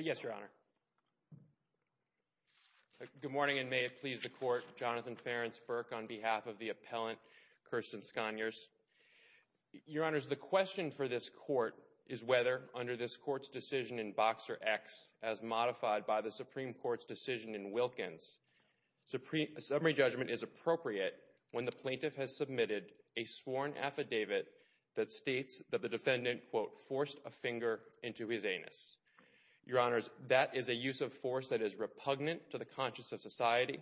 Yes, Your Honor. Good morning, and may it please the Court, Jonathan Ferenc Berk on behalf of the appellant, Kirstin Sconiers. Your Honors, the question for this Court is whether, under this Court's decision in Boxer X, as modified by the Supreme Court's decision in Wilkins, a summary judgment is appropriate when the plaintiff has submitted a sworn affidavit that states that the defendant quote, forced a finger into his anus. Your Honors, that is a use of force that is repugnant to the conscience of society.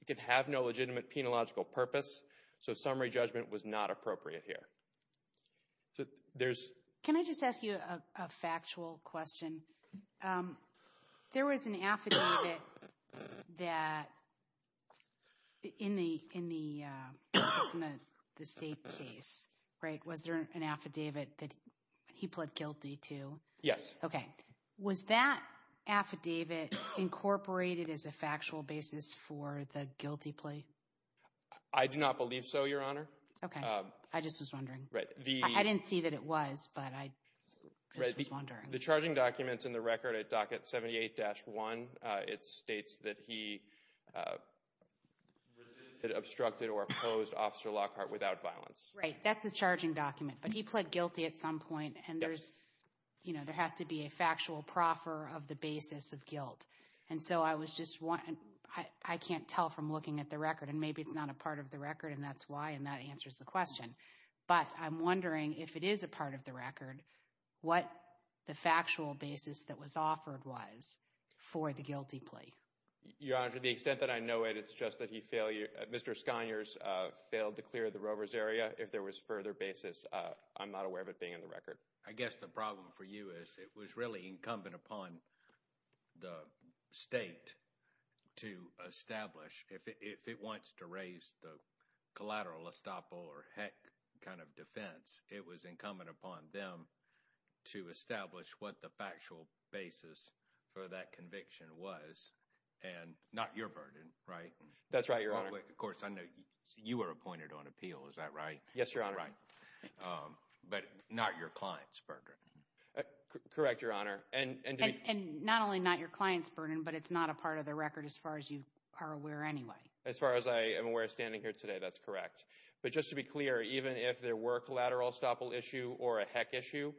It can have no legitimate penological purpose, so summary judgment was not appropriate here. So, there's... Can I just ask you a factual question? There was an affidavit that, in the state case, right, was there an affidavit that he pled guilty to? Yes. Okay. Was that affidavit incorporated as a factual basis for the guilty plea? I do not believe so, Your Honor. Okay. I just was wondering. Right. I didn't see that it was, but I just was wondering. The charging documents in the record at Docket 78-1, it states that he obstructed or opposed Officer Lockhart without violence. Right, that's the argument, but he pled guilty at some point, and there's, you know, there has to be a factual proffer of the basis of guilt, and so I was just wondering, I can't tell from looking at the record, and maybe it's not a part of the record, and that's why, and that answers the question, but I'm wondering if it is a part of the record, what the factual basis that was offered was for the guilty plea? Your Honor, to the extent that I know it, it's just that he failed, Mr. Skoniers failed to clear the Rovers area. If there was further basis, I'm not aware of it being in the record. I guess the problem for you is it was really incumbent upon the state to establish, if it wants to raise the collateral estoppel or heck kind of defense, it was incumbent upon them to establish what the factual basis for that conviction was, and not your burden, right? That's right, Your Honor. Of course, I know you were appointed on appeal, is that right? Yes, Your Honor. But not your client's burden. Correct, Your Honor. And not only not your client's burden, but it's not a part of the record as far as you are aware anyway. As far as I am aware standing here today, that's correct, but just to be clear, even if there were collateral estoppel issue or a heck issue,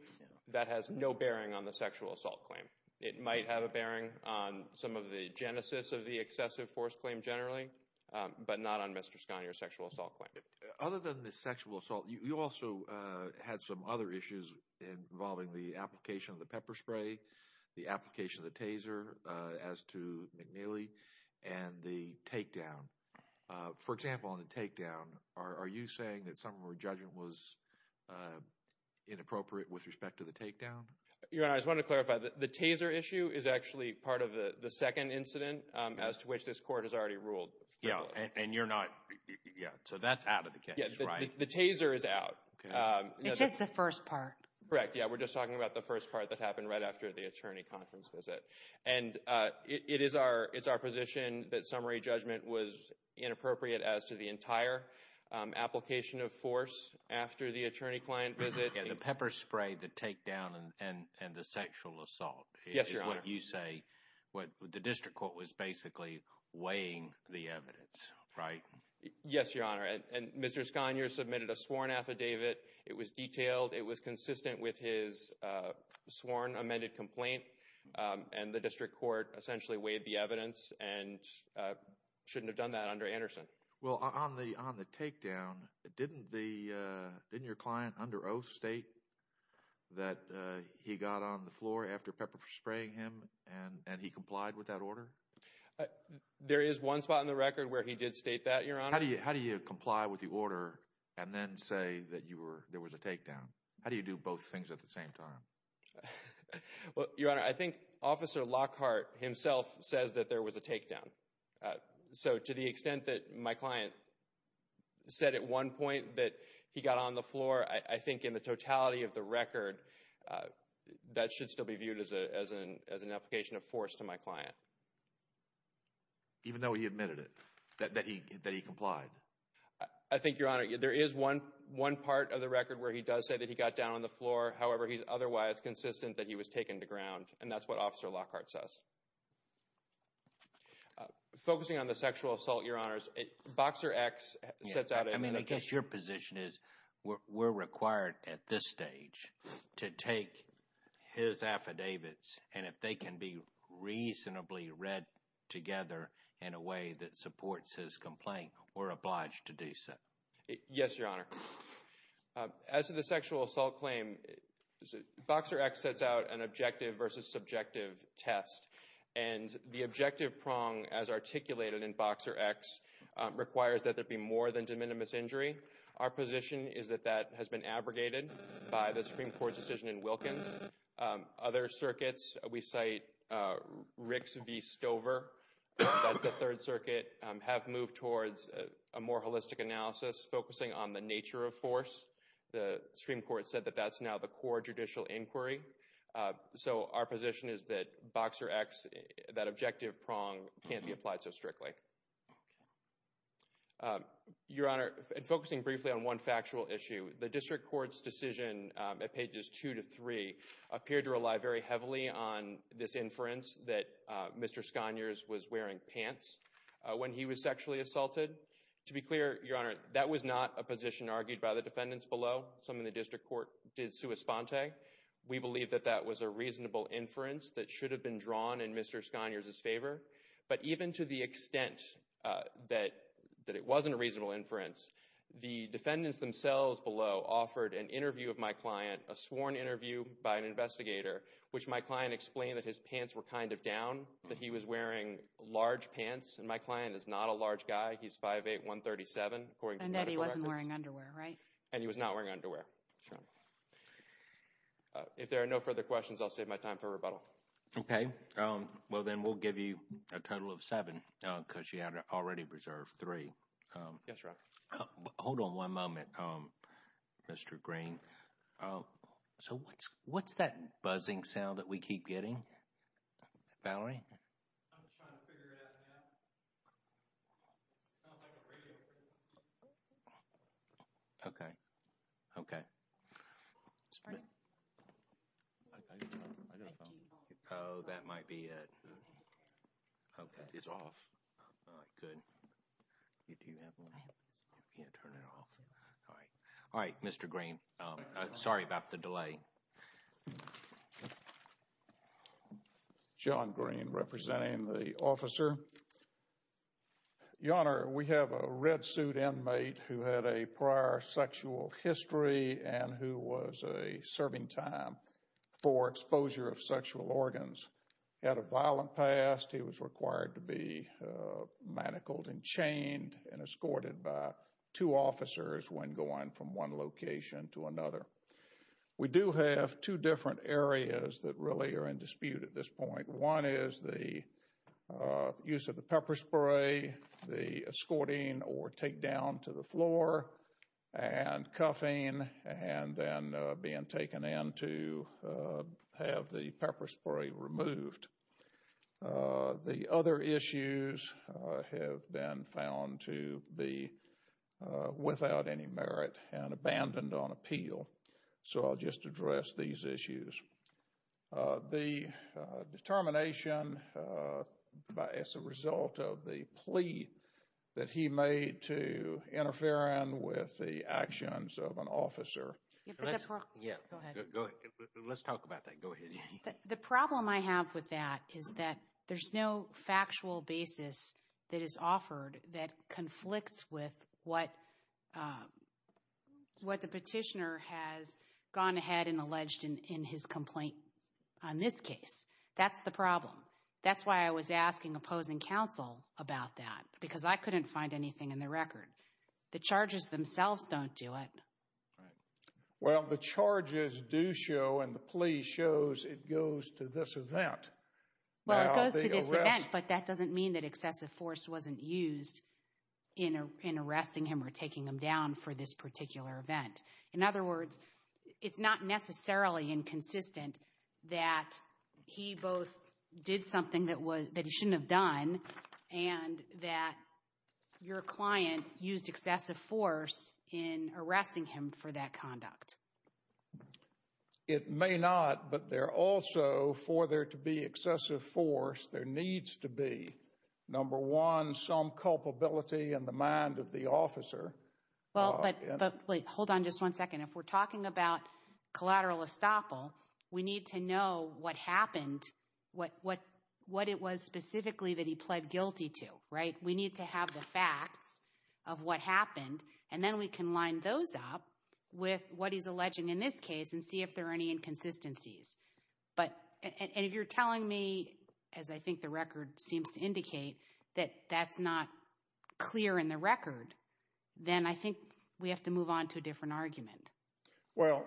that has no bearing on the sexual assault claim. It might have a bearing on some of the genesis of the excessive force claim generally, but not on Mr. Scania's sexual assault claim. Other than the sexual assault, you also had some other issues involving the application of the pepper spray, the application of the taser as to McNeely, and the takedown. For example, on the takedown, are you saying that some of her judgment was inappropriate with respect to the takedown? Your Honor, I just want to clarify. The taser issue is actually part of the second incident as to which this Court has already ruled. Yeah, and you're not, yeah, so that's out of the case, right? The taser is out. It's just the first part. Correct, yeah, we're just talking about the first part that happened right after the attorney conference visit. And it is our, it's our position that summary judgment was inappropriate as to the entire application of force after the attorney-client visit. And the pepper spray, the takedown, and the sexual assault, is what you say, what the district court was basically weighing the evidence, right? Yes, Your Honor, and Mr. Scania submitted a sworn affidavit. It was detailed. It was consistent with his sworn amended complaint, and the district court essentially weighed the evidence and shouldn't have done that under Anderson. Well, on the on the takedown, didn't the, didn't your client under oath state that he got on the floor after pepper spraying him and and he complied with that order? There is one spot in the record where he did state that, Your Honor. How do you, how do you comply with the order and then say that you were, there was a takedown? How do you do both things at the same time? Well, Your Honor, I think Officer Lockhart himself says that there was a takedown. So, to the extent that my client said at one point that he got on the floor, I think in the totality of the record, that should still be viewed as a, as an, as an application of force to my client. Even though he admitted it, that he, that he complied? I think, Your Honor, there is one, one part of the record where he does say that he got down on the floor. However, he's otherwise consistent that he was taken to ground, and that's what Officer Lockhart says. Focusing on the sexual assault, Your Honors, Boxer X sets out a I mean, I guess your position is we're required at this stage to take his affidavits, and if they can be reasonably read together in a way that supports his complaint, we're obliged to do so. Yes, Your Honor. As to the sexual assault claim, Boxer X sets out an objective versus subjective test, and the objective prong as articulated in Boxer X requires that there be more than de minimis injury. Our position is that that has been abrogated by the Supreme Court's decision in Wilkins. Other circuits, we cite Ricks v. Stover, that's the Third Circuit, have moved towards a more holistic analysis focusing on the nature of force. The Supreme Court said that that's now the core judicial inquiry, so our position is that Boxer X, that objective prong, can't be applied so strictly. Your Honor, and focusing briefly on one factual issue, the District Court's decision at pages 2 to 3 appeared to rely very heavily on this inference that Mr. Scogners was wearing pants when he was sexually assaulted. To be clear, Your Honor, that was not a position argued by the defendants below. Some in the District Court did sua sponte. We believe that that was a reasonable inference that should have been drawn in Mr. Scogners' favor, but even to the extent that it wasn't a reasonable inference, the defendants themselves below offered an interview of my client, a sworn interview by an investigator, which my client explained that his pants were kind of down, that he was wearing large pants, and my client is not a large guy. He's 5'8", 137, according to medical records. And that he wasn't wearing underwear, right? And he was not wearing underwear, Your Honor. If there are no further questions, I'll save my time for rebuttal. Okay, well then we'll give you a total of seven because you had already reserved three. Yes, Your Honor. Hold on one moment, Mr. Green. So what's that buzzing sound that we keep getting? Valerie? Okay, okay. Oh, that might be it. Okay, it's off. All right, Mr. Green, sorry about the delay. John Green representing the officer. Your Honor, we have a red suit inmate who had a prior sexual history and who was a serving time for exposure of sexual organs. He had a violent past. He was required to be manacled and chained and escorted by two officers when going from one location to another. We do have two different areas that really are in dispute at this point. One is the use of the pepper spray, the escorting or takedown to the floor, and cuffing and then being taken in to have the pepper spray removed. The other issues have been found to be without any merit and abandoned on appeal. So I'll just address these issues. The determination by as a result of the plea that he made to interfere in with the actions of an officer. Let's talk about that. Go ahead. The problem I have with that is that there's no factual basis that is alleged in his complaint on this case. That's the problem. That's why I was asking opposing counsel about that because I couldn't find anything in the record. The charges themselves don't do it. Well, the charges do show and the plea shows it goes to this event. Well, it goes to this event but that doesn't mean that excessive force wasn't used in arresting him or taking him down for this particular event. In other words, it's not necessarily inconsistent that he both did something that was that he shouldn't have done and that your client used excessive force in arresting him for that conduct. It may not but there also for there to be excessive force there needs to be number one some culpability in the mind of the officer. Hold on just one second. If we're talking about collateral estoppel, we need to know what happened, what it was specifically that he pled guilty to, right? We need to have the facts of what happened and then we can line those up with what he's alleging in this case and see if there are any inconsistencies. But if you're telling me, as I think the clear in the record, then I think we have to move on to a different argument. Well,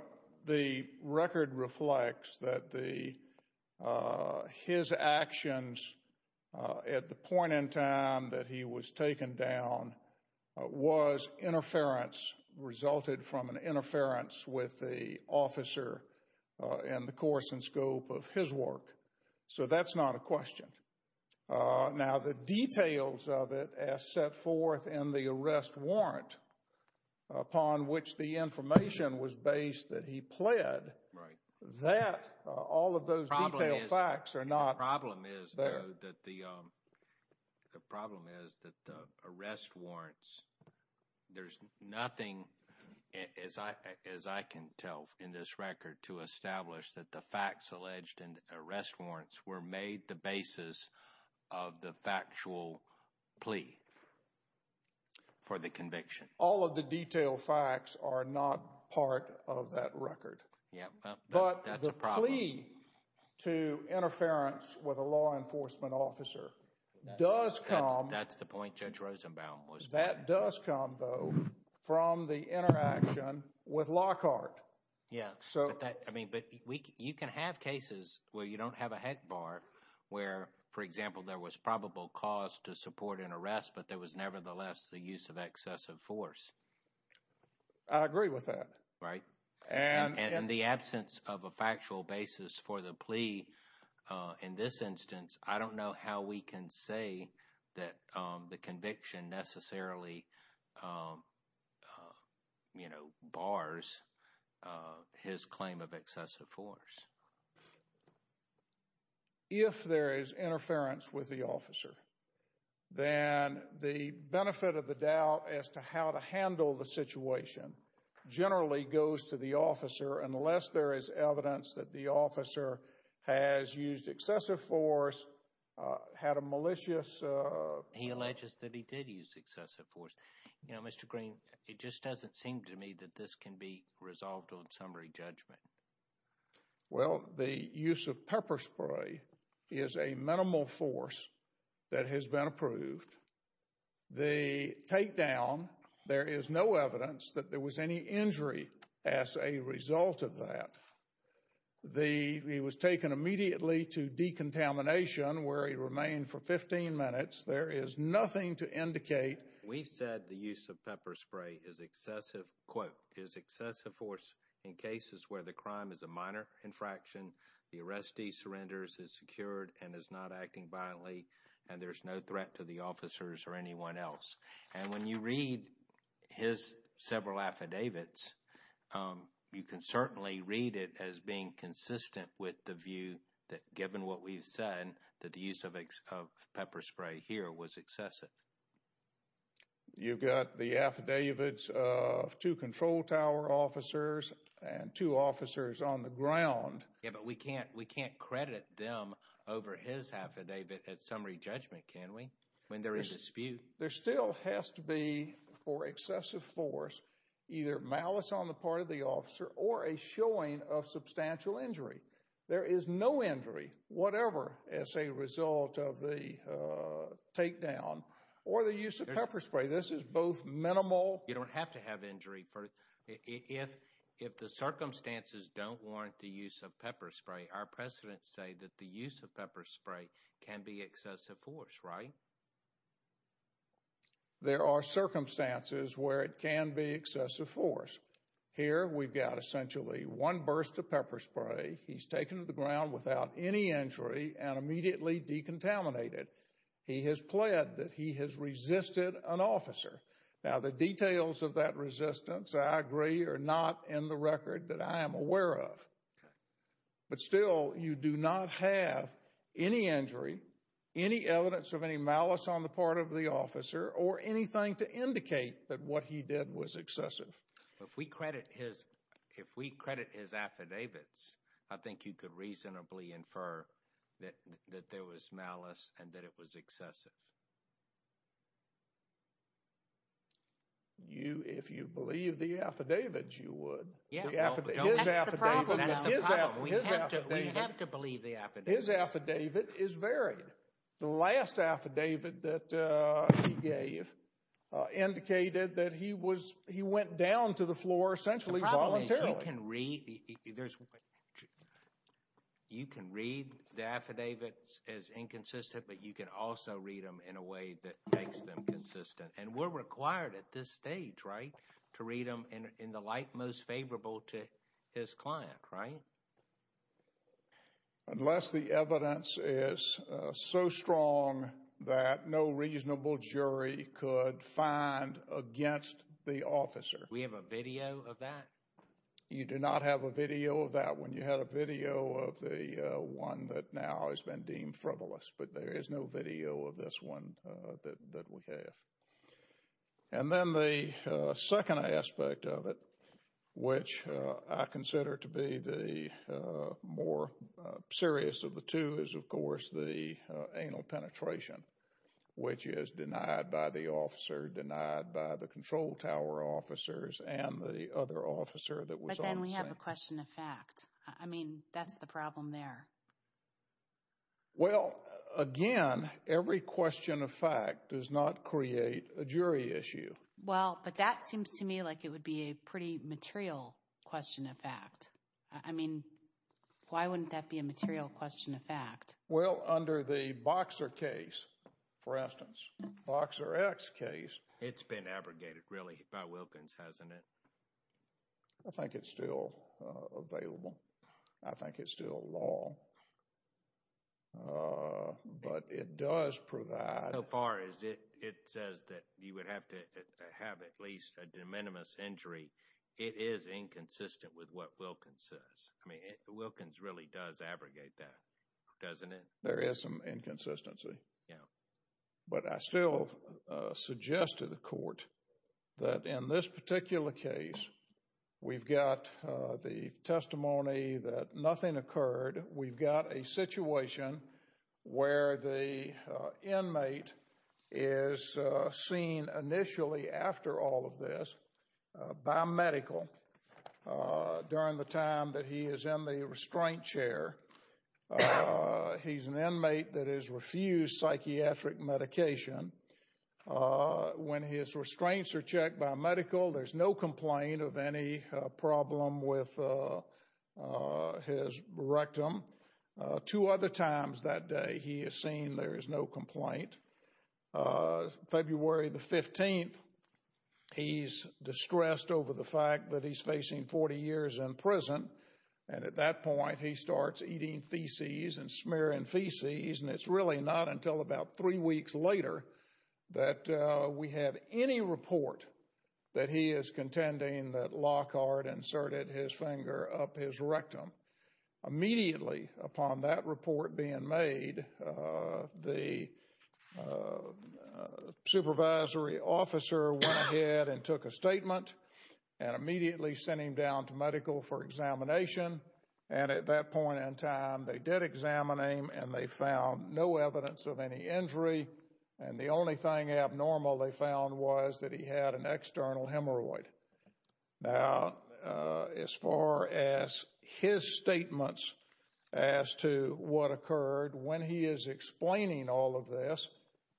the record reflects that the his actions at the point in time that he was taken down was interference, resulted from an interference with the officer and the course and scope of his work. So that's not a question. Now the details of it as set forth in the arrest warrant upon which the information was based that he pled, that, all of those facts are not there. The problem is that the arrest warrants, there's nothing as I can tell in this record to establish that the for the conviction. All of the detailed facts are not part of that record. Yeah. But the plea to interference with a law enforcement officer does come. That's the point Judge Rosenbaum was making. That does come, though, from the interaction with Lockhart. Yeah, I mean, but you can have cases where you don't have a heck bar where, for example, there was probable cause to support an arrest, but there was nevertheless the use of excessive force. I agree with that. Right. And in the absence of a factual basis for the plea, in this instance, I don't know how we can say that the conviction necessarily bars his claim of excessive force. If there is interference with the officer, then the benefit of the doubt as to how to handle the situation generally goes to the officer unless there is evidence that the officer has used excessive force, had a malicious... He alleges that he did use excessive force. You know, Mr. Green, it just doesn't seem to me that this can be resolved on summary judgment. Well, the use of pepper spray is a minimal force that has been approved. The takedown, there is no evidence that there was any injury as a result of that. He was taken immediately to decontamination where he remained for 15 minutes. There is nothing to indicate. We've said the use of pepper spray is excessive, quote, in cases where the crime is a minor infraction, the arrestee surrenders, is secured, and is not acting violently, and there's no threat to the officers or anyone else. And when you read his several affidavits, you can certainly read it as being consistent with the view that, given what we've said, that the use of pepper spray here was excessive. You've got the affidavits of two control tower officers and two officers on the ground. Yeah, but we can't credit them over his affidavit at summary judgment, can we, when there is dispute? There still has to be, for excessive force, either malice on the part of the officer or a showing of as a result of the takedown, or the use of pepper spray. This is both minimal... You don't have to have injury. If the circumstances don't warrant the use of pepper spray, our precedents say that the use of pepper spray can be excessive force, right? There are circumstances where it can be excessive force. Here, we've got essentially one burst of contaminated. He has pled that he has resisted an officer. Now, the details of that resistance, I agree, are not in the record that I am aware of. But still, you do not have any injury, any evidence of any malice on the part of the officer, or anything to indicate that what he did was excessive. If we credit his affidavits, I think you could reasonably infer that there was malice, and that it was excessive. If you believe the affidavits, you would. That's the problem. We have to believe the affidavits. His affidavit is varied. The last affidavit that he gave indicated that he went down to the floor essentially voluntarily. You can read the affidavits as inconsistent, but you can also read them in a way that makes them consistent. And we're required at this stage, right, to read them in the light most favorable to his client, right? Unless the evidence is so strong that no reasonable jury could find against the officer. We have a video of that? You do not have a video of that one. You had a video of the one that now has been deemed frivolous, but there is no video of this one that we have. And then the second aspect of it, which I consider to be the more serious of the two, is of course the anal penetration, which is denied by the officer, denied by the control tower officers, and the other officer. But then we have a question of fact. I mean, that's the problem there. Well, again, every question of fact does not create a jury issue. Well, but that seems to me like it would be a pretty material question of fact. I mean, why wouldn't that be a material question of fact? Well, under the Boxer case, for instance, Boxer X case— It's been abrogated, really, by Wilkins, hasn't it? I think it's still available. I think it's still law. But it does provide— So far as it says that you would have to have at least a de minimis injury, it is inconsistent with what Wilkins says. I mean, Wilkins really does abrogate that, doesn't it? There is some inconsistency. But I still suggest to the court that in this particular case, we've got the testimony that nothing occurred. We've got a situation where the inmate is seen initially after all of this by medical during the time that he is in the restraint chair. He's an inmate that has refused psychiatric medication. When his restraints are checked by medical, there's no complaint of any problem with his rectum. Two other times that day, he is seen, there is no complaint. On February the 15th, he's distressed over the fact that he's facing 40 years in prison. And at that point, he starts eating feces and smearing feces. And it's really not until about three weeks later that we have any report that he is contending that Lockhart inserted his finger up his rectum. Immediately upon that report being made, the supervisory officer went ahead and took a statement and immediately sent him down to medical for examination. And at that point in time, they did examine him and they found no evidence of any injury. And the only thing abnormal they found was that he had an external hemorrhoid. Now, as far as his statements as to what occurred, when he is explaining all of this,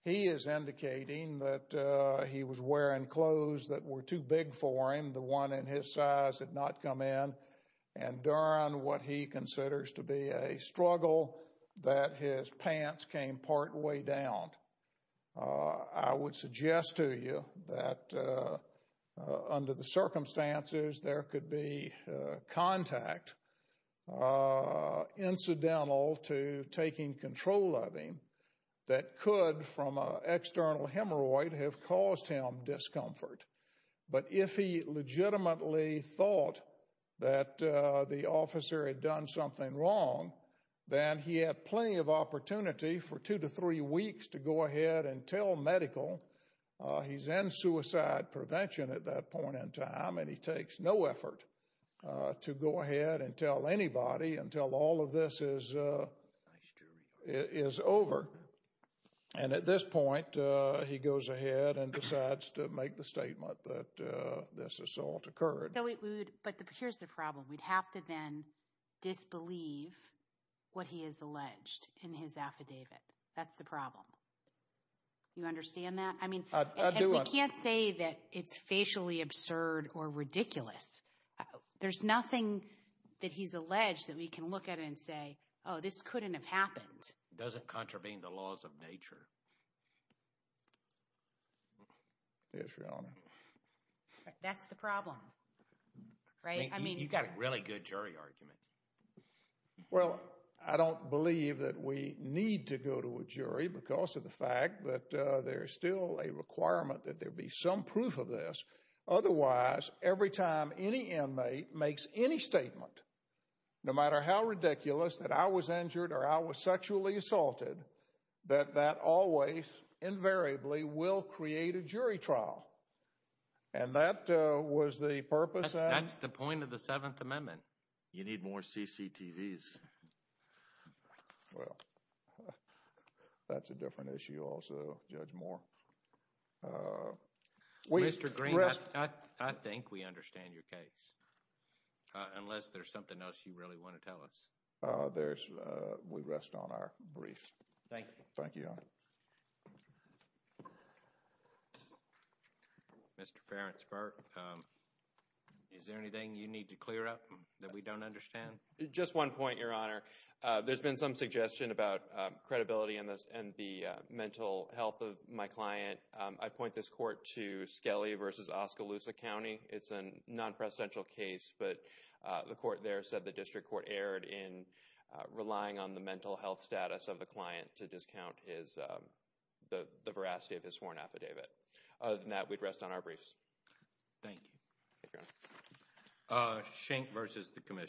he is indicating that he was wearing clothes that were too big for him. The one in his size had not come in. And during what he considers to be a incident, I would suggest to you that under the circumstances, there could be contact incidental to taking control of him that could, from an external hemorrhoid, have caused him discomfort. But if he legitimately thought that the officer had done something wrong, then he had plenty of opportunity for two to three weeks to go ahead and tell medical. He's in suicide prevention at that point in time, and he takes no effort to go ahead and tell anybody until all of this is over. And at this point, he goes ahead and decides to make the statement that this assault occurred. But here's the problem. We'd have to then disbelieve what he has alleged in his affidavit. That's the problem. You understand that? I do. We can't say that it's facially absurd or ridiculous. There's nothing that he's alleged that we can look at and say, oh, this couldn't have happened. Doesn't contravene the laws of nature. Yes, Your Honor. That's the problem, right? I mean, you've got a really good jury argument. Well, I don't believe that we need to go to a jury because of the fact that there's still a requirement that there be some proof of this. Otherwise, every time any inmate makes any statement, no matter how ridiculous, that I was injured or I was sexually assaulted, that that always invariably will create a jury trial. And that was the purpose. That's the point of the Seventh Amendment. You need more CCTVs. Well, that's a different issue also, Judge Moore. Mr. Green, I think we understand your case. Unless there's something else you really want to tell us. Thank you. Thank you, Your Honor. Mr. Ferencberg, is there anything you need to clear up that we don't understand? Just one point, Your Honor. There's been some suggestion about credibility and the mental health of my client. I point this court to Skelly v. Oskaloosa County. It's a non-presidential case, but the court there said the district court erred in the veracity of his sworn affidavit. Other than that, we'd rest on our briefs. Thank you.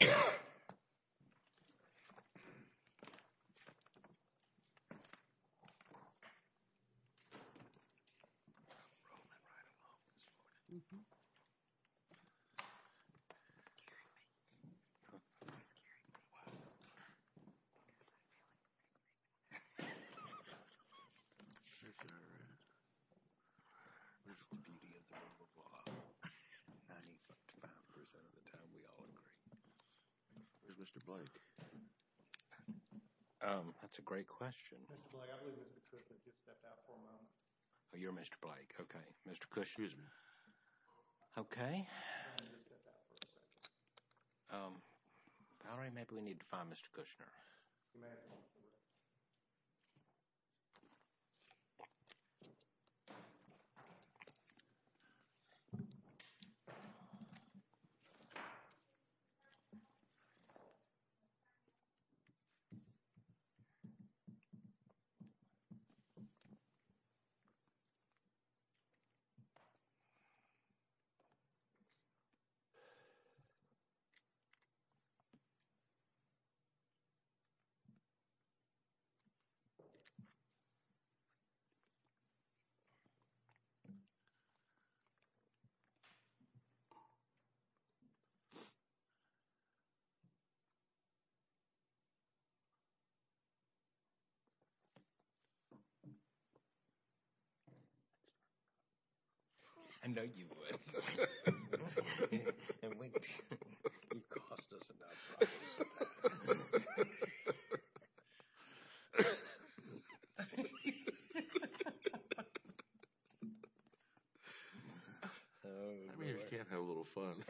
Is Mr. Blake? Um, that's a great question. Mr. Blake, I believe Mr. Kushner just stepped out for a moment. Oh, you're Mr. Blake. Okay. Mr. Kushner. Okay. Um, Valerie, maybe we need to find Mr. Kushner. Okay. I know you would. I mean, we can't have a little fun.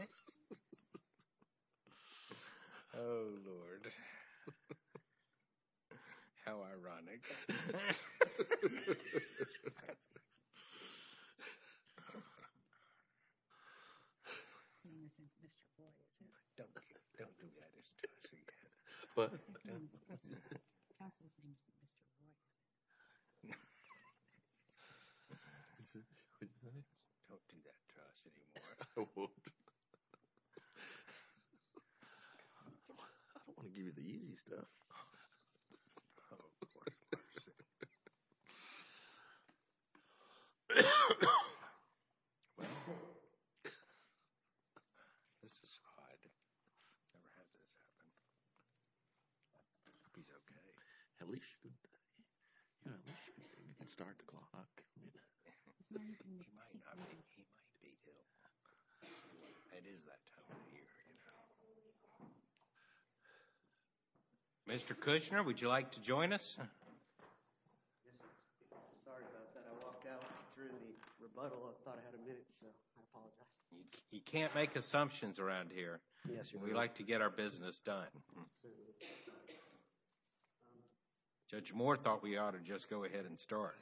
Oh, Lord. How ironic. I don't want to give you the easy stuff. Oh, of course. Of course. Well, let's just hide. Never had this happen. He's okay. At least you're good. You know what? You can start now. Okay. Mr. Kushner, would you like to join us? Yes, sir. Sorry about that. I walked out during the rebuttal. I thought I had a minute, so I apologize. You can't make assumptions around here. We like to get our business done. Absolutely. Judge Moore thought we ought to just go ahead and start.